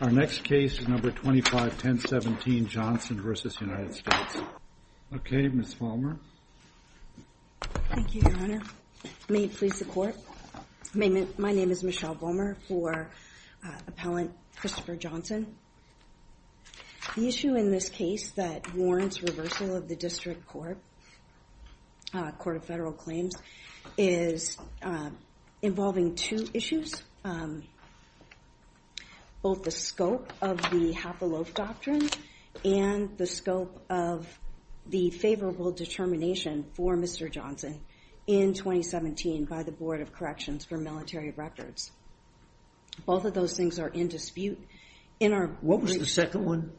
Our next case is number 25 1017 Johnson versus United States. Okay, Miss Palmer. Thank you, Your Honor. May it please the court. My name is Michelle Bomer for appellant Christopher Johnson. The issue in this case that warrants reversal of the district court court of federal claims is involving two issues. Um, both the scope of the half a loaf doctrine and the scope of the favorable determination for Mr Johnson in 2017 by the Board of Corrections for military records. Both of those things are in dispute in our. What was the second one?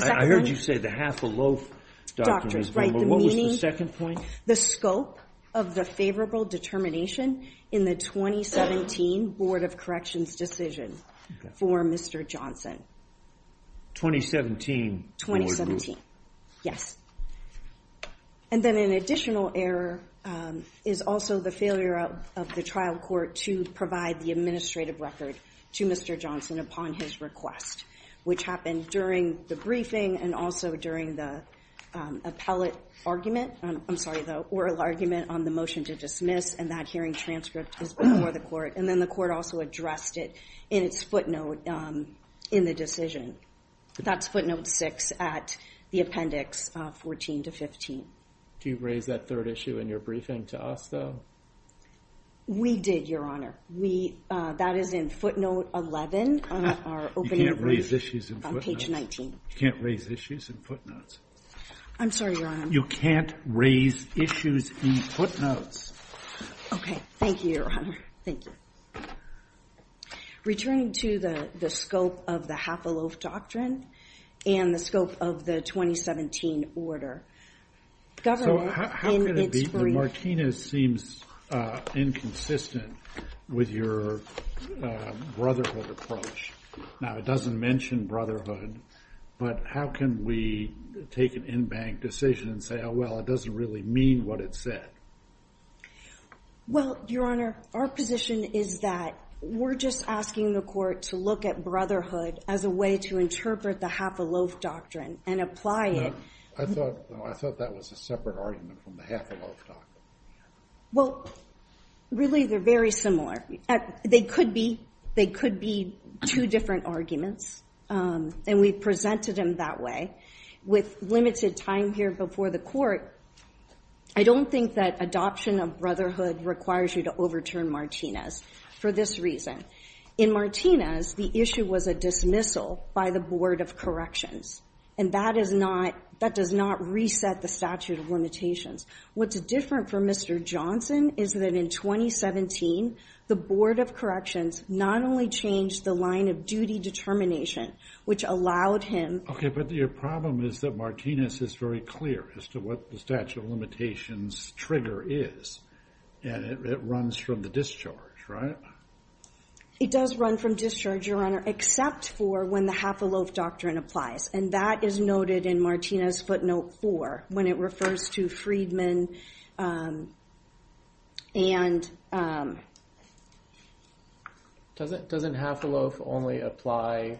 I heard you say the half a loaf doctors, right? The second point, the scope of a favorable determination in the 2017 Board of Corrections decision for Mr Johnson 2017 2017. Yes. And then an additional error is also the failure of the trial court to provide the administrative record to Mr Johnson upon his request, which happened during the briefing and also during the appellate argument. I'm sorry, the oral argument on the motion to dismiss and that hearing transcript is before the court. And then the court also addressed it in its footnote in the decision. That's footnote six at the appendix 14 to 15. Do you raise that third issue in your briefing to us, though? We did, Your Honor. We that is in footnote 11 on our opening raise issues in page 19. Can't raise issues in footnotes. I'm sorry, Your Honor. You can't raise issues in footnotes. Okay, thank you, Your Honor. Thank you. Returning to the scope of the half a loaf doctrine and the scope of the 2017 order. Governor, how can it be? Martinez seems inconsistent with your brotherhood approach. Now it doesn't mention brotherhood, but how can we take an unbanked decision and say, Well, it doesn't really mean what it said. Well, Your Honor, our position is that we're just asking the court to look at brotherhood as a way to interpret the half a loaf doctrine and apply it. I thought I thought that was a separate argument from the half a loaf. Well, really, they're very similar. They could be. They could be two different arguments, and we presented him that way with limited time here before the court. I don't think that adoption of brotherhood requires you to overturn Martinez for this reason. In Martinez, the issue was a dismissal by the Board of Corrections, and that is not that does not reset the statute of limitations. What's different for Mr Johnson is that in 2017, the Board of Corrections not only changed the line of duty determination, which allowed him. Okay, but your problem is that Martinez is very clear as to what the statute of limitations trigger is, and it runs from the discharge, right? It does run from discharge, Your Honor, except for when the half a loaf doctrine applies, and that is noted in Martinez footnote four when it refers to Friedman. Um, and, um, doesn't doesn't have to loaf only apply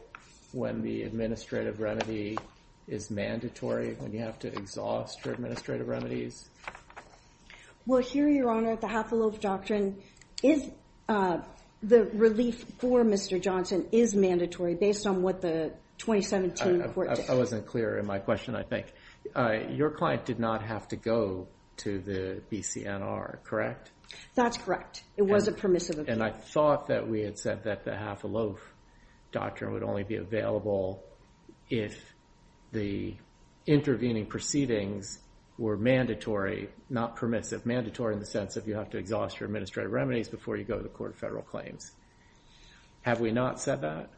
when the administrative remedy is mandatory. When you have to exhaust your administrative remedies. Well, here, Your Honor, at the half a loaf doctrine is, uh, the relief for Mr Johnson is mandatory based on what the 2017 I wasn't clear in my question. I think your client did not have to go to the B. C. N. R. Correct? That's correct. It was a permissive, and I thought that we had said that the half a loaf doctrine would only be available if the intervening proceedings were mandatory, not permissive, mandatory in the sense of you have to exhaust your administrative remedies before you go to court. Federal claims. Have we not said that?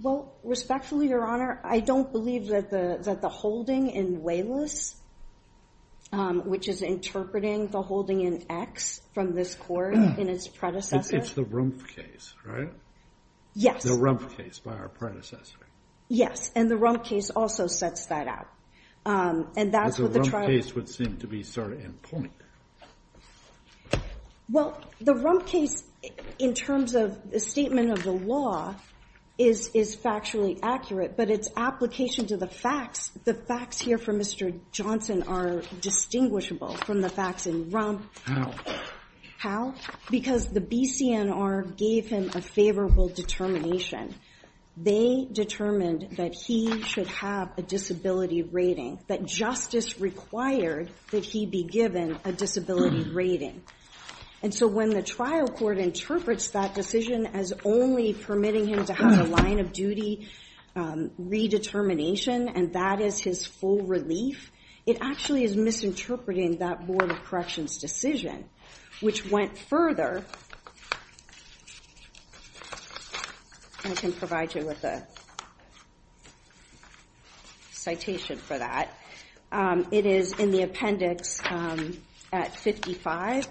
Well, respectfully, Your Honor, I don't believe that the that the holding in wayless, which is interpreting the holding in X from this court in his predecessor. It's the room case, right? Yes. The rump case by our predecessor. Yes. And the rump case also sets that out. Um, and that's what the trial case would seem to be sort of in point. Well, the rump case in terms of the statement of the law is is factually accurate, but it's application to the facts. The facts here for Mr Johnson are distinguishable from the facts in rump. How? Because the B. C. N. R. Gave him a favorable determination. They determined that he should have a disability rating that justice required that he be given a disability rating. And so when the trial court interprets that decision as only permitting him to have a line of duty redetermination, and that is his full relief, it actually is misinterpreting that Board of Corrections decision, which went further. I can provide you with a citation for that. It is in the appendix at 55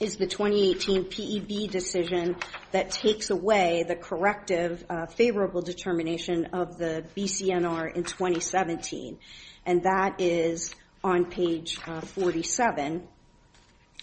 is the 2018 P. E. B. Decision that takes away the corrective favorable determination of the B. C. N. R. In 2017, and that is on page 47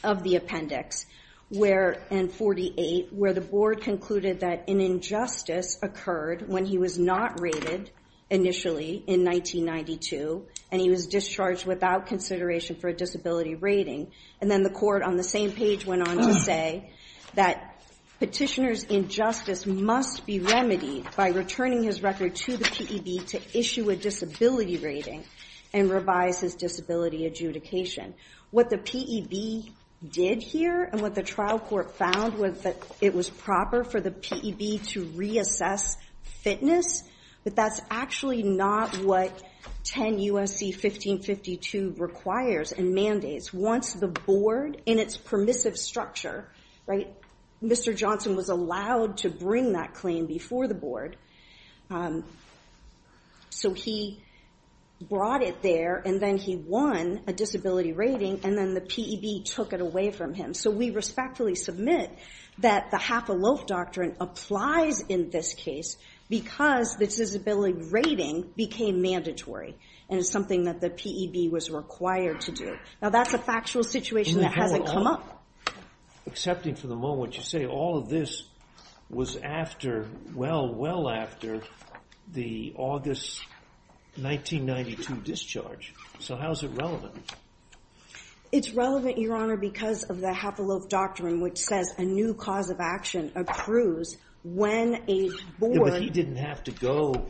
of the appendix where in 48 where the board concluded that an injustice occurred when he was not rated initially in 1992, and he was discharged without consideration for a disability rating. And then the court on the same page went on to say that petitioners injustice must be remedied by returning his record to the P. E. B. To issue a disability rating and revise his disability adjudication. What the P. E. B. Did here and what the trial court found was that it was proper for the P. E. B. To reassess fitness. But that's actually not what 10 U. S. C. 1552 requires and mandates. Once the board in its permissive structure, Mr. Johnson was allowed to bring that claim before the board. So he brought it there and then he won a disability rating and then the P. E. B. Took it away from him. So we respectfully submit that the half a loaf doctrine applies in this case because this is a building rating became mandatory and it's something that the P. E. B. Was required to do. Now, that's a factual situation that hasn't come up accepting for the moment. You say all of this was after well, well after the August 1992 discharge. So how is it relevant? It's relevant, Your Honor, because of the half a loaf doctrine, which says a new cause of action approves when a board didn't have to go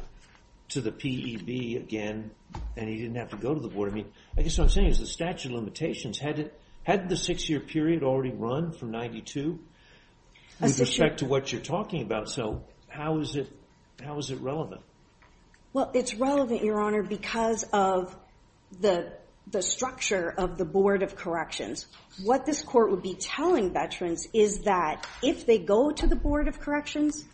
to the P. E. B. Again, and he didn't have to go to the board. I mean, I guess what I'm saying is the statute of limitations. Had it had the six year period already run from 92 with respect to what you're talking about. So how is it? How is it relevant? Well, it's relevant, Your Honor, because of the structure of the board of corrections. What this court would be telling veterans is that if they go to the board of corrections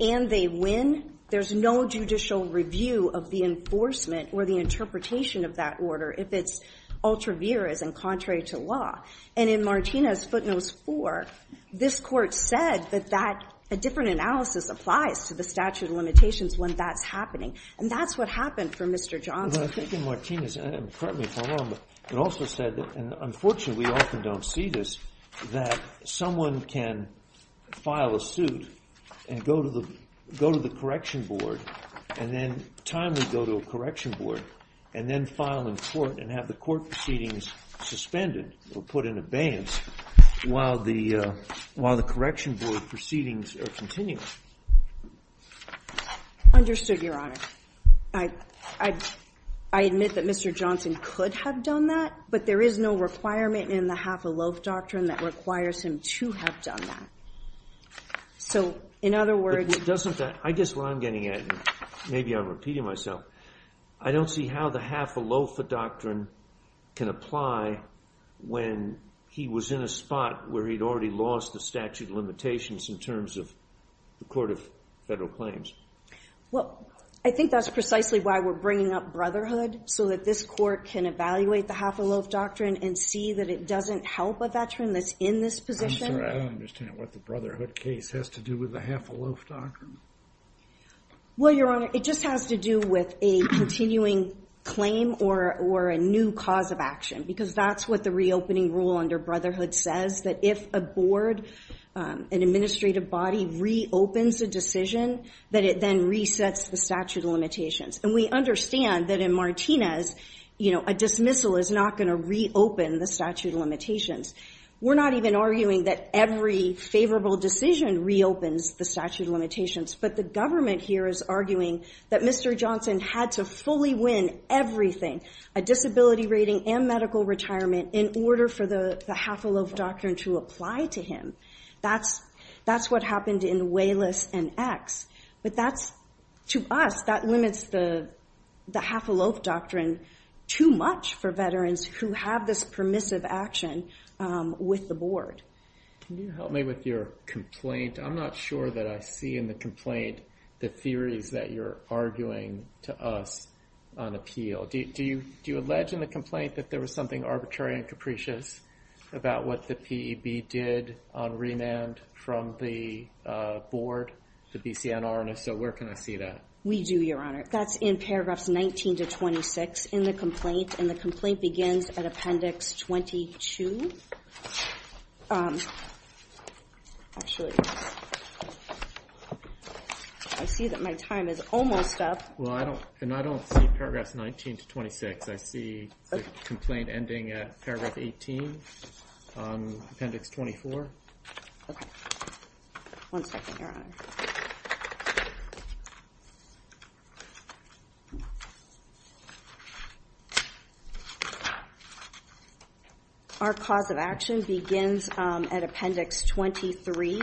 and they win, there's no judicial review of the enforcement or the interpretation of that order if it's ultra vires and contrary to law. And in Martinez footnotes for this court said that that a different analysis applies to the statute of limitations when that's happening. And that's what happened for Mr Johnson. I think in Martinez, it also said, and unfortunately, we often don't see this, that someone can file a suit and go to the go to the correction board and then timely go to a correction board and then file in court and have the court proceedings suspended or put in abeyance while the while the correction board proceedings are continuing. Understood, Your Honor. I admit that Mr. Johnson could have done that, but there is no requirement in the half a loaf doctrine that requires him to have done that. So in other words, it doesn't that I guess what I'm getting at, maybe I'm repeating myself. I don't see how the half a loaf of doctrine can apply when he was in a spot where he'd already lost the statute limitations in terms of the court of federal claims. Well, I think that's precisely why we're bringing up Brotherhood, so that this court can evaluate the half a loaf doctrine and see that it doesn't help a veteran that's in this position. I'm sorry, I don't understand what the Brotherhood case has to do with the half a loaf doctrine. Well, Your Honor, it just has to do with a continuing claim or a new cause of action, because that's what the reopening rule under Brotherhood says, that if a board, an administrative body, reopens a decision, that it then resets the statute of limitations. And we understand that in Martinez, you know, a dismissal is not going to reopen the statute of limitations. We're not even arguing that every favorable decision reopens the statute of limitations, but the government here is arguing that Mr. Johnson had to fully win everything, a disability rating and medical retirement, in order for the half a loaf doctrine to apply to him. That's what happened in Wayless and X, but that's, to us, that limits the half a loaf doctrine too much for veterans who have this permissive action with the board. Can you help me with your complaint? I'm not sure that I see in the complaint the theories that you're arguing to us on appeal. Do you allege in the complaint that there was something arbitrary and capricious about what the P.E.B. did on remand from the board, the B.C.N.R.? And if so, where can I see that? We do, Your Honor. That's in paragraphs 19 to 26 in the complaint, and the complaint begins at appendix 22. Actually, I see that my time is almost up. Well, I don't, and I don't see paragraphs 19 to 26. I see the complaint ending at paragraph 18, appendix 24. Our cause of action begins at appendix 23,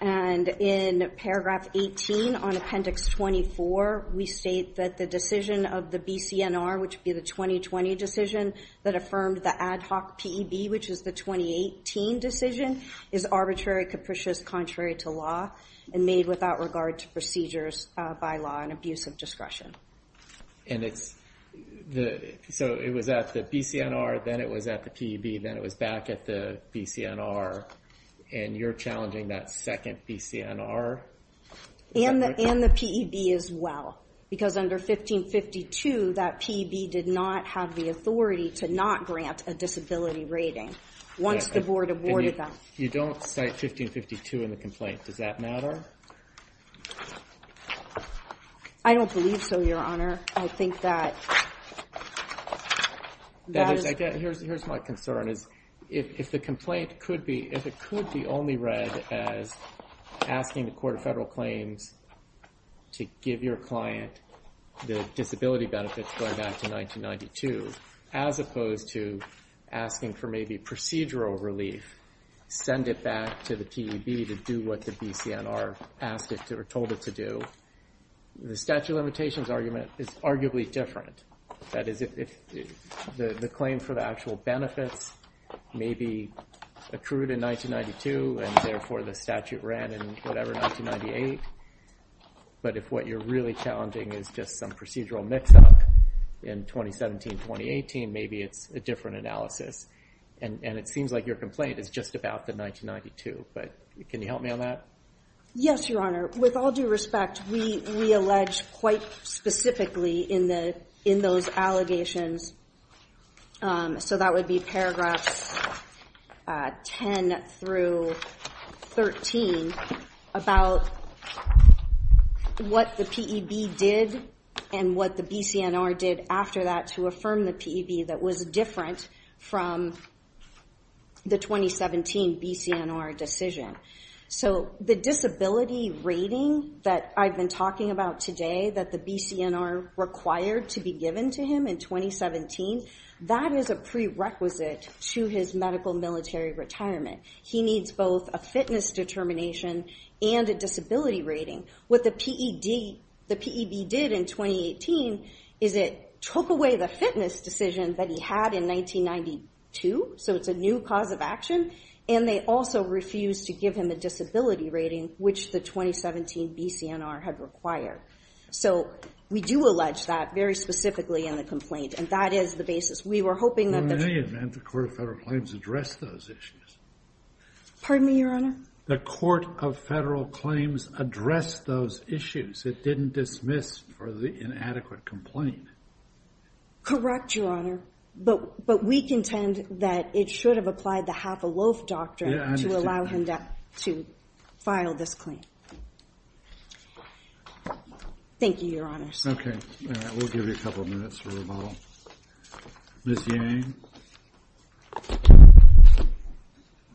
and in paragraph 18 on appendix 24, we state that the decision of the B.C.N.R., which would be the 2020 decision that affirmed the ad hoc P.E.B., which is the 2018 decision, is arbitrary, capricious, contrary to law, and made without regard to procedures by law and abuse of discretion. And it's the, so it was at the B.C.N.R., then it was at the P.E.B., then it was back at the B.C.N.R., and you're challenging that second B.C.N.R.? And the P.E.B. as well, because under 1552, that P.E.B. did not have the authority to not grant a disability rating once the board awarded them. You don't cite 1552 in the complaint. Does that matter? I don't believe so, Your Honor. I think that... Here's my concern, is if the complaint could be, if it could be only read as asking the Court of Federal Claims to give your client the disability benefits going back to 1992, as opposed to asking for maybe procedural relief, send it back to the P.E.B. to do what the B.C.N.R. asked it to, or told it to do, the statute of limitations argument is arguably different. That is, if the claim for the actual benefits may be accrued in 1992, and therefore the statute ran in whatever, 1998. But if what you're really challenging is just some procedural mix-up in 2017, 2018, maybe it's a different analysis. And it seems like your complaint is just about the 1992, but can you help me on that? Yes, Your Honor. With all due respect, we allege quite specifically in those allegations, so that would be paragraphs 10 through 13, about what the P.E.B. did and what the B.C.N.R. did after that to affirm the P.E.B. that was different from the 2017 B.C.N.R. decision. So the disability rating that I've been talking about today, that the B.C.N.R. required to be given to him in 2017, that is a prerequisite to his medical military retirement. He needs both a fitness determination and a disability rating. What the P.E.B. did in 2018 is it took away the fitness decision that he had in 1992, so it's a new cause of action, and they also refused to give him a disability rating, which the 2017 B.C.N.R. had required. So we do allege that very specifically in the complaint, and that is the basis. We were hoping that the... In any event, the Court of Federal Claims addressed those issues. Pardon me, Your Honor? The Court of Federal Claims addressed those issues. It didn't dismiss for the inadequate complaint. Correct, Your Honor, but we contend that it should have applied the half-a-loaf doctrine to allow him to file this claim. Thank you, Your Honors. Okay, we'll give you a couple of minutes for rebuttal. Ms. Yang?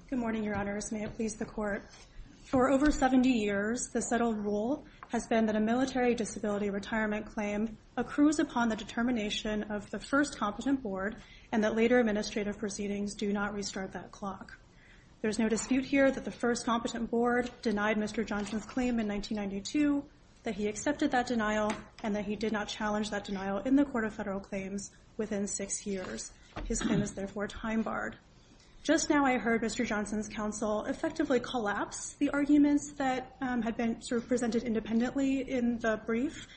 Good morning, Your Honors. May it please the Court. For over 70 years, the settled rule has been that a military disability retirement claim accrues upon the determination of the first competent board, and that later administrative proceedings do not restart that clock. There's no dispute here that the first competent board denied Mr. Johnson's claim in 1992, that he accepted that denial, and that he did not challenge that denial in the Court of Federal Claims within six years. His claim is therefore time-barred. Just now I heard Mr. Johnson's counsel effectively collapse the arguments that had been sort of presented independently in the brief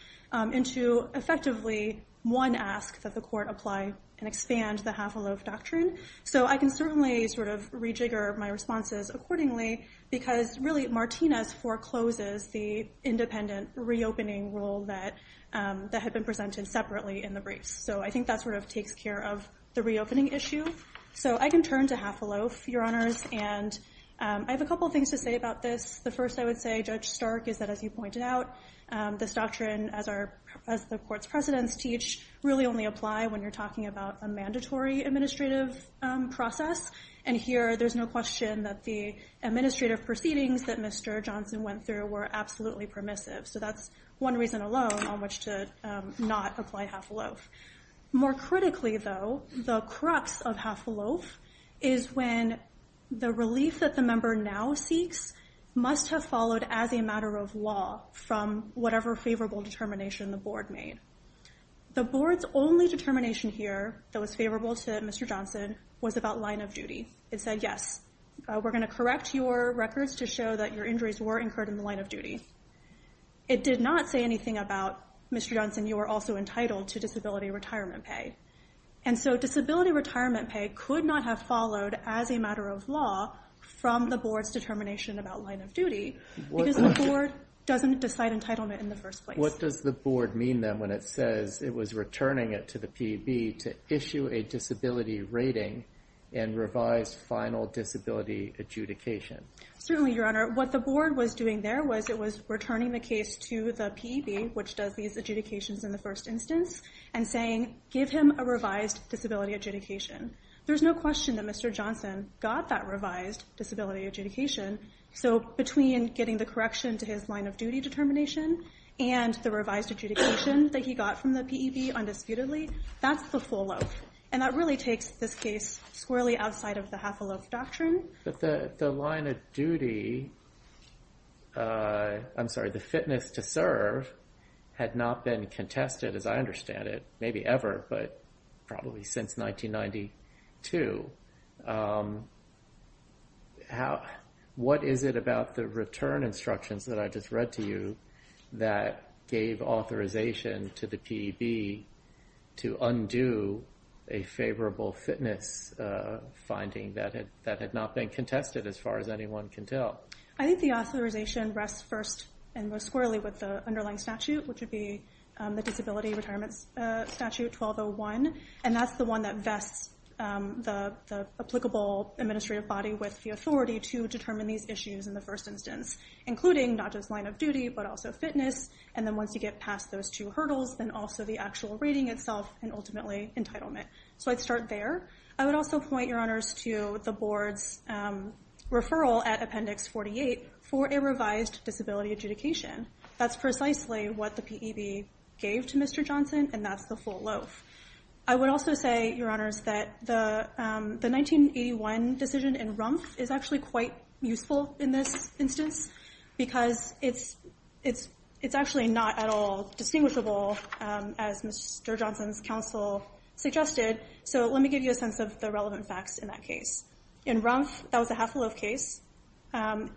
into effectively one ask that the Court apply and expand the half-a-loaf doctrine. So I can certainly sort of rejigger my responses accordingly, because really Martinez forecloses the independent reopening rule that had been presented separately in the briefs. So I think that sort of takes care of the reopening issue. So I can turn to half-a-loaf, Your Honors, and I have a couple things to say about this. The first I would say, Judge Stark, is that as you pointed out, this doctrine, as the Court's precedents teach, really only apply when you're talking about a mandatory administrative process. And here there's no question that the administrative proceedings that Mr. Johnson went through were absolutely permissive. So that's one reason alone on which to not apply half-a-loaf. More critically though, the crux of half-a-loaf is when the relief that the member now seeks must have followed as a matter of law from whatever favorable determination the Board made. The Board's only determination here that was favorable to Mr. Johnson was about line of duty. It said, yes, we're going to correct your records to show that your injuries were incurred in the line of duty. It did not say anything about, Mr. Johnson, you are also entitled to disability retirement pay. And so disability retirement pay could not have followed as a matter of law from the Board's determination about line of duty because the Board doesn't decide entitlement in the first place. What does the Board mean then when it says it was returning it to the PEB to issue a disability rating and revised final disability adjudication? Certainly, Your Honor. What the Board was doing there was it was returning the case to the PEB, which does these adjudications in the first instance, and saying, give him a revised disability adjudication. There's no question that Mr. Johnson got that revised disability adjudication. So between getting the correction to his line of duty determination and the revised adjudication that he got from the PEB undisputedly, that's the full loaf. And that really takes this case squarely outside of the half a loaf doctrine. But the line of duty, I'm sorry, the fitness to serve had not been contested as I understand it, maybe ever, but probably since 1992. What is it about the return instructions that I just read to you that gave authorization to the PEB to undo a favorable fitness finding that had not been contested as far as anyone can tell? I think the authorization rests first and most squarely with the underlying statute, which would be the Disability Retirement Statute 1201. And that's the one that vests the applicable administrative body with the authority to determine these issues in the first instance, including not just line of duty, but also fitness. And then once you get past those two hurdles, then also the actual reading itself and ultimately entitlement. So I'd start there. I would also point, Your Honors, to the Board's referral at Appendix 48 for a revised disability adjudication. That's precisely what the PEB gave to Mr. Johnson, and that's the full loaf. I would also say, Your Honors, that the 1981 decision in Rumpf is actually quite useful in this instance, because it's actually not at all distinguishable, as Mr. Johnson's counsel suggested. So let me give you a sense of the relevant facts in that case. In Rumpf, that was a half a loaf case. A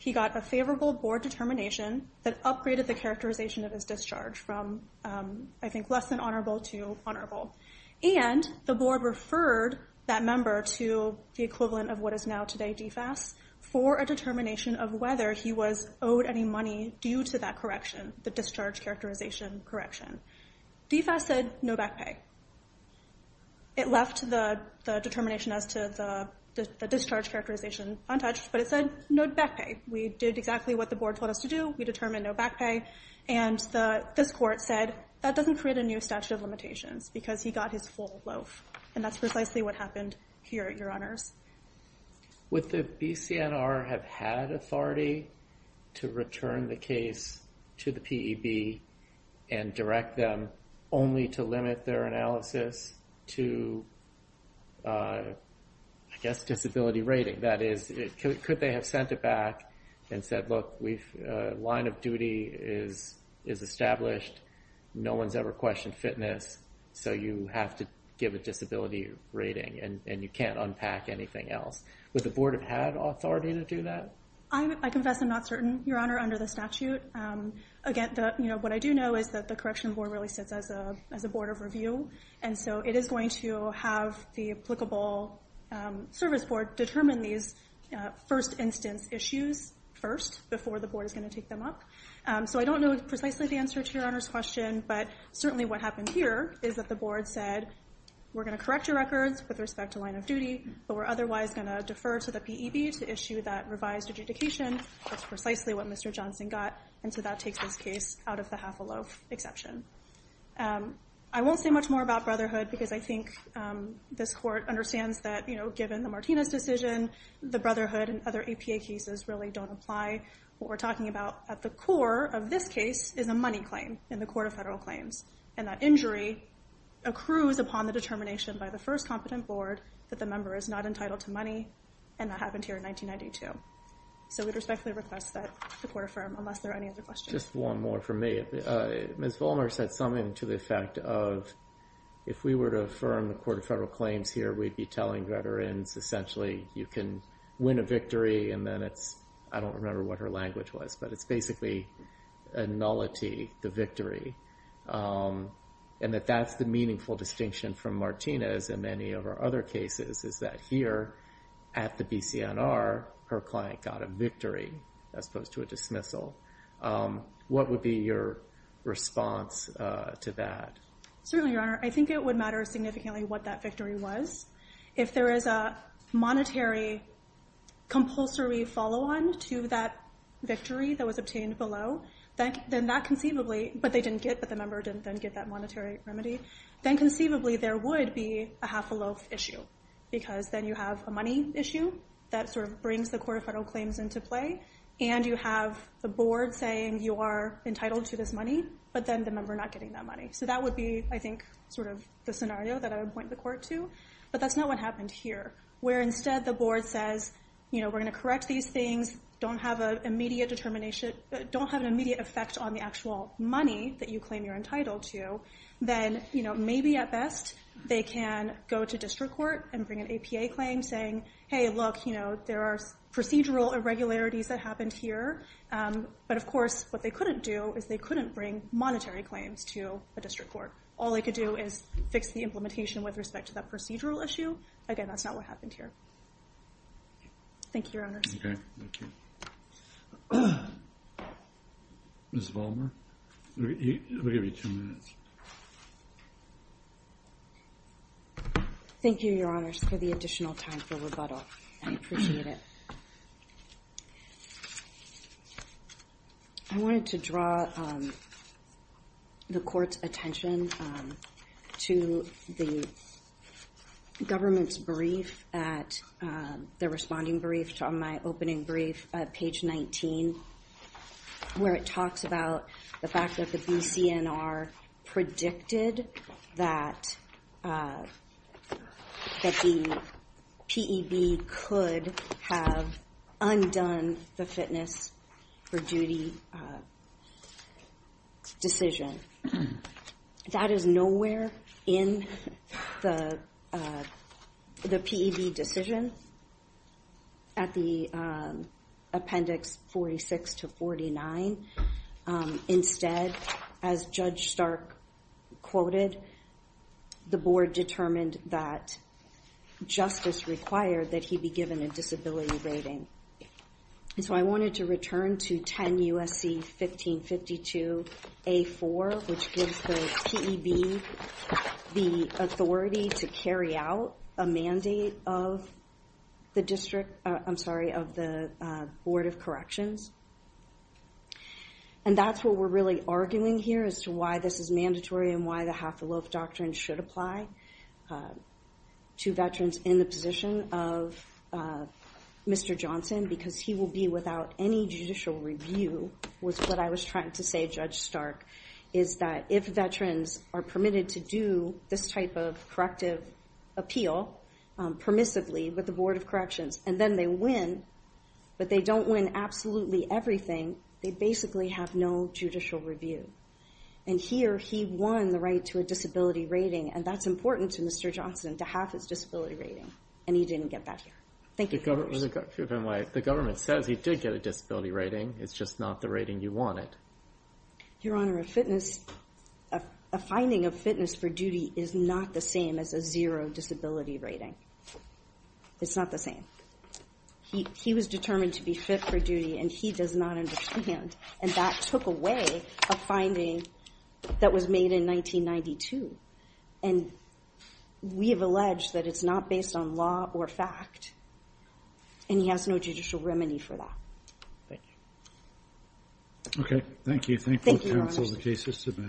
he got a favorable board determination that upgraded the characterization of his discharge from, I think, less than honorable to honorable. And the board referred that member to the equivalent of what is now today DFAS for a determination of whether he was owed any money due to that correction, the discharge characterization correction. DFAS said no back pay. It left the determination as to the discharge characterization untouched, but it said no back pay. We did exactly what the board told us to do. We determined no back pay, and this court said that doesn't create a new statute of limitations, because he got his full loaf. And that's precisely what happened here, Your Honors. Would the BCNR have had authority to return the case to the PEB and direct them only to limit their analysis to, I guess, disability rating? That is, could they have sent it back and said, look, a line of duty is established. No one's ever questioned fitness, so you have to give a disability rating, and you can't unpack anything else. Would the board have had authority to do that? I confess I'm not certain, Your Honor, under the statute. Again, what I do know is that the correction board really sits as a board of review, and so it is going to have the applicable service board determine these first instance issues first, before the board is going to take them up. So I don't know precisely the answer to Your Honor's question, but certainly what happened here is that the board said, we're going to correct your records with respect to line of duty, but we're otherwise going to defer to the PEB to issue that revised adjudication. That's precisely what Mr. Johnson got, and so that takes this case out of the half a loaf exception. I won't say much more about Brotherhood, because I think this court understands that, you know, given the Martinez decision, the Brotherhood and other APA cases really don't apply. What we're talking about at the core of this case is a money claim in the Court of Federal Claims, and that injury accrues upon the determination by the first competent board that the member is not entitled to money, and that happened here in 1992. So we respectfully request that the court affirm, unless there are any other questions. Just one more for me. Ms. Vollmer said something to the effect of, if we were to affirm the Court of Federal Claims here, we'd be telling veterans, essentially, you can win a victory, and then it's, I don't remember what her language was, but it's basically a nullity, the victory, and that that's the meaningful distinction from Martinez in many of our other cases, is that here at the BCNR, her client got a victory as opposed to a dismissal. What would be your response to that? Certainly, Your Honor. I think it would matter significantly what that victory was. If there is a monetary compulsory follow-on to that victory that was obtained below, then that conceivably, but they didn't get, but the member didn't then get that monetary remedy, then conceivably there would be a half-a-loaf issue, because then you have a money issue that sort of brings the Court of Federal Claims into play, and you have the board saying you are entitled to this money, but then the member not getting that money. So that would be, I think, sort of the scenario that I would point the court to, but that's not what happened here, where instead the board says, you know, we're going to correct these things, don't have an immediate determination, don't have an immediate effect on the actual money that you claim you're entitled to, then, you know, maybe at best they can go to district court and bring an APA claim saying, hey, look, you know, there are procedural irregularities that happened here, but of course what they couldn't do is they couldn't bring monetary claims to a district court. All they could do is fix the implementation with respect to that procedural issue. Again, that's not what happened here. Thank you, Your Honors. Okay. Thank you. Ms. Vollmer, we'll give you two minutes. Thank you, Your Honors, for the additional time for rebuttal. I appreciate it. I wanted to draw the court's attention to the government's brief at their responding brief on my opening brief at page 19, where it talks about the fact that the BCNR predicted that the PEB could have undone the fitness for duty decision. That is nowhere in the PEB decision at the appendix 46 to 49. Instead, as Judge Stark quoted, the board determined that justice required that he be given a disability rating. So I wanted to return to 10 U.S.C. 1552 A4, which gives the PEB the authority to carry out a mandate of the district, I'm And that's what we're really arguing here as to why this is mandatory and why the half-a-loaf doctrine should apply to veterans in the position of Mr. Johnson, because he will be without any judicial review with what I was trying to say, Judge Stark, is that if veterans are permitted to do this type of corrective appeal permissively with the Board of Corrections, and then they win, but they don't win absolutely everything, they basically have no judicial review. And here, he won the right to a disability rating, and that's important to Mr. Johnson, to have his disability rating, and he didn't get that here. Thank you for your question. The government says he did get a disability rating. It's just not the rating you wanted. Your Honor, a finding of fitness for duty is not the same as a zero disability rating. It's not the same. He was determined to be fit for duty, and he does not understand. And that took away a finding that was made in 1992. And we have alleged that it's not based on law or fact. And he has no judicial remedy for that. OK. Thank you. Thank you, Your Honor. The case is submitted.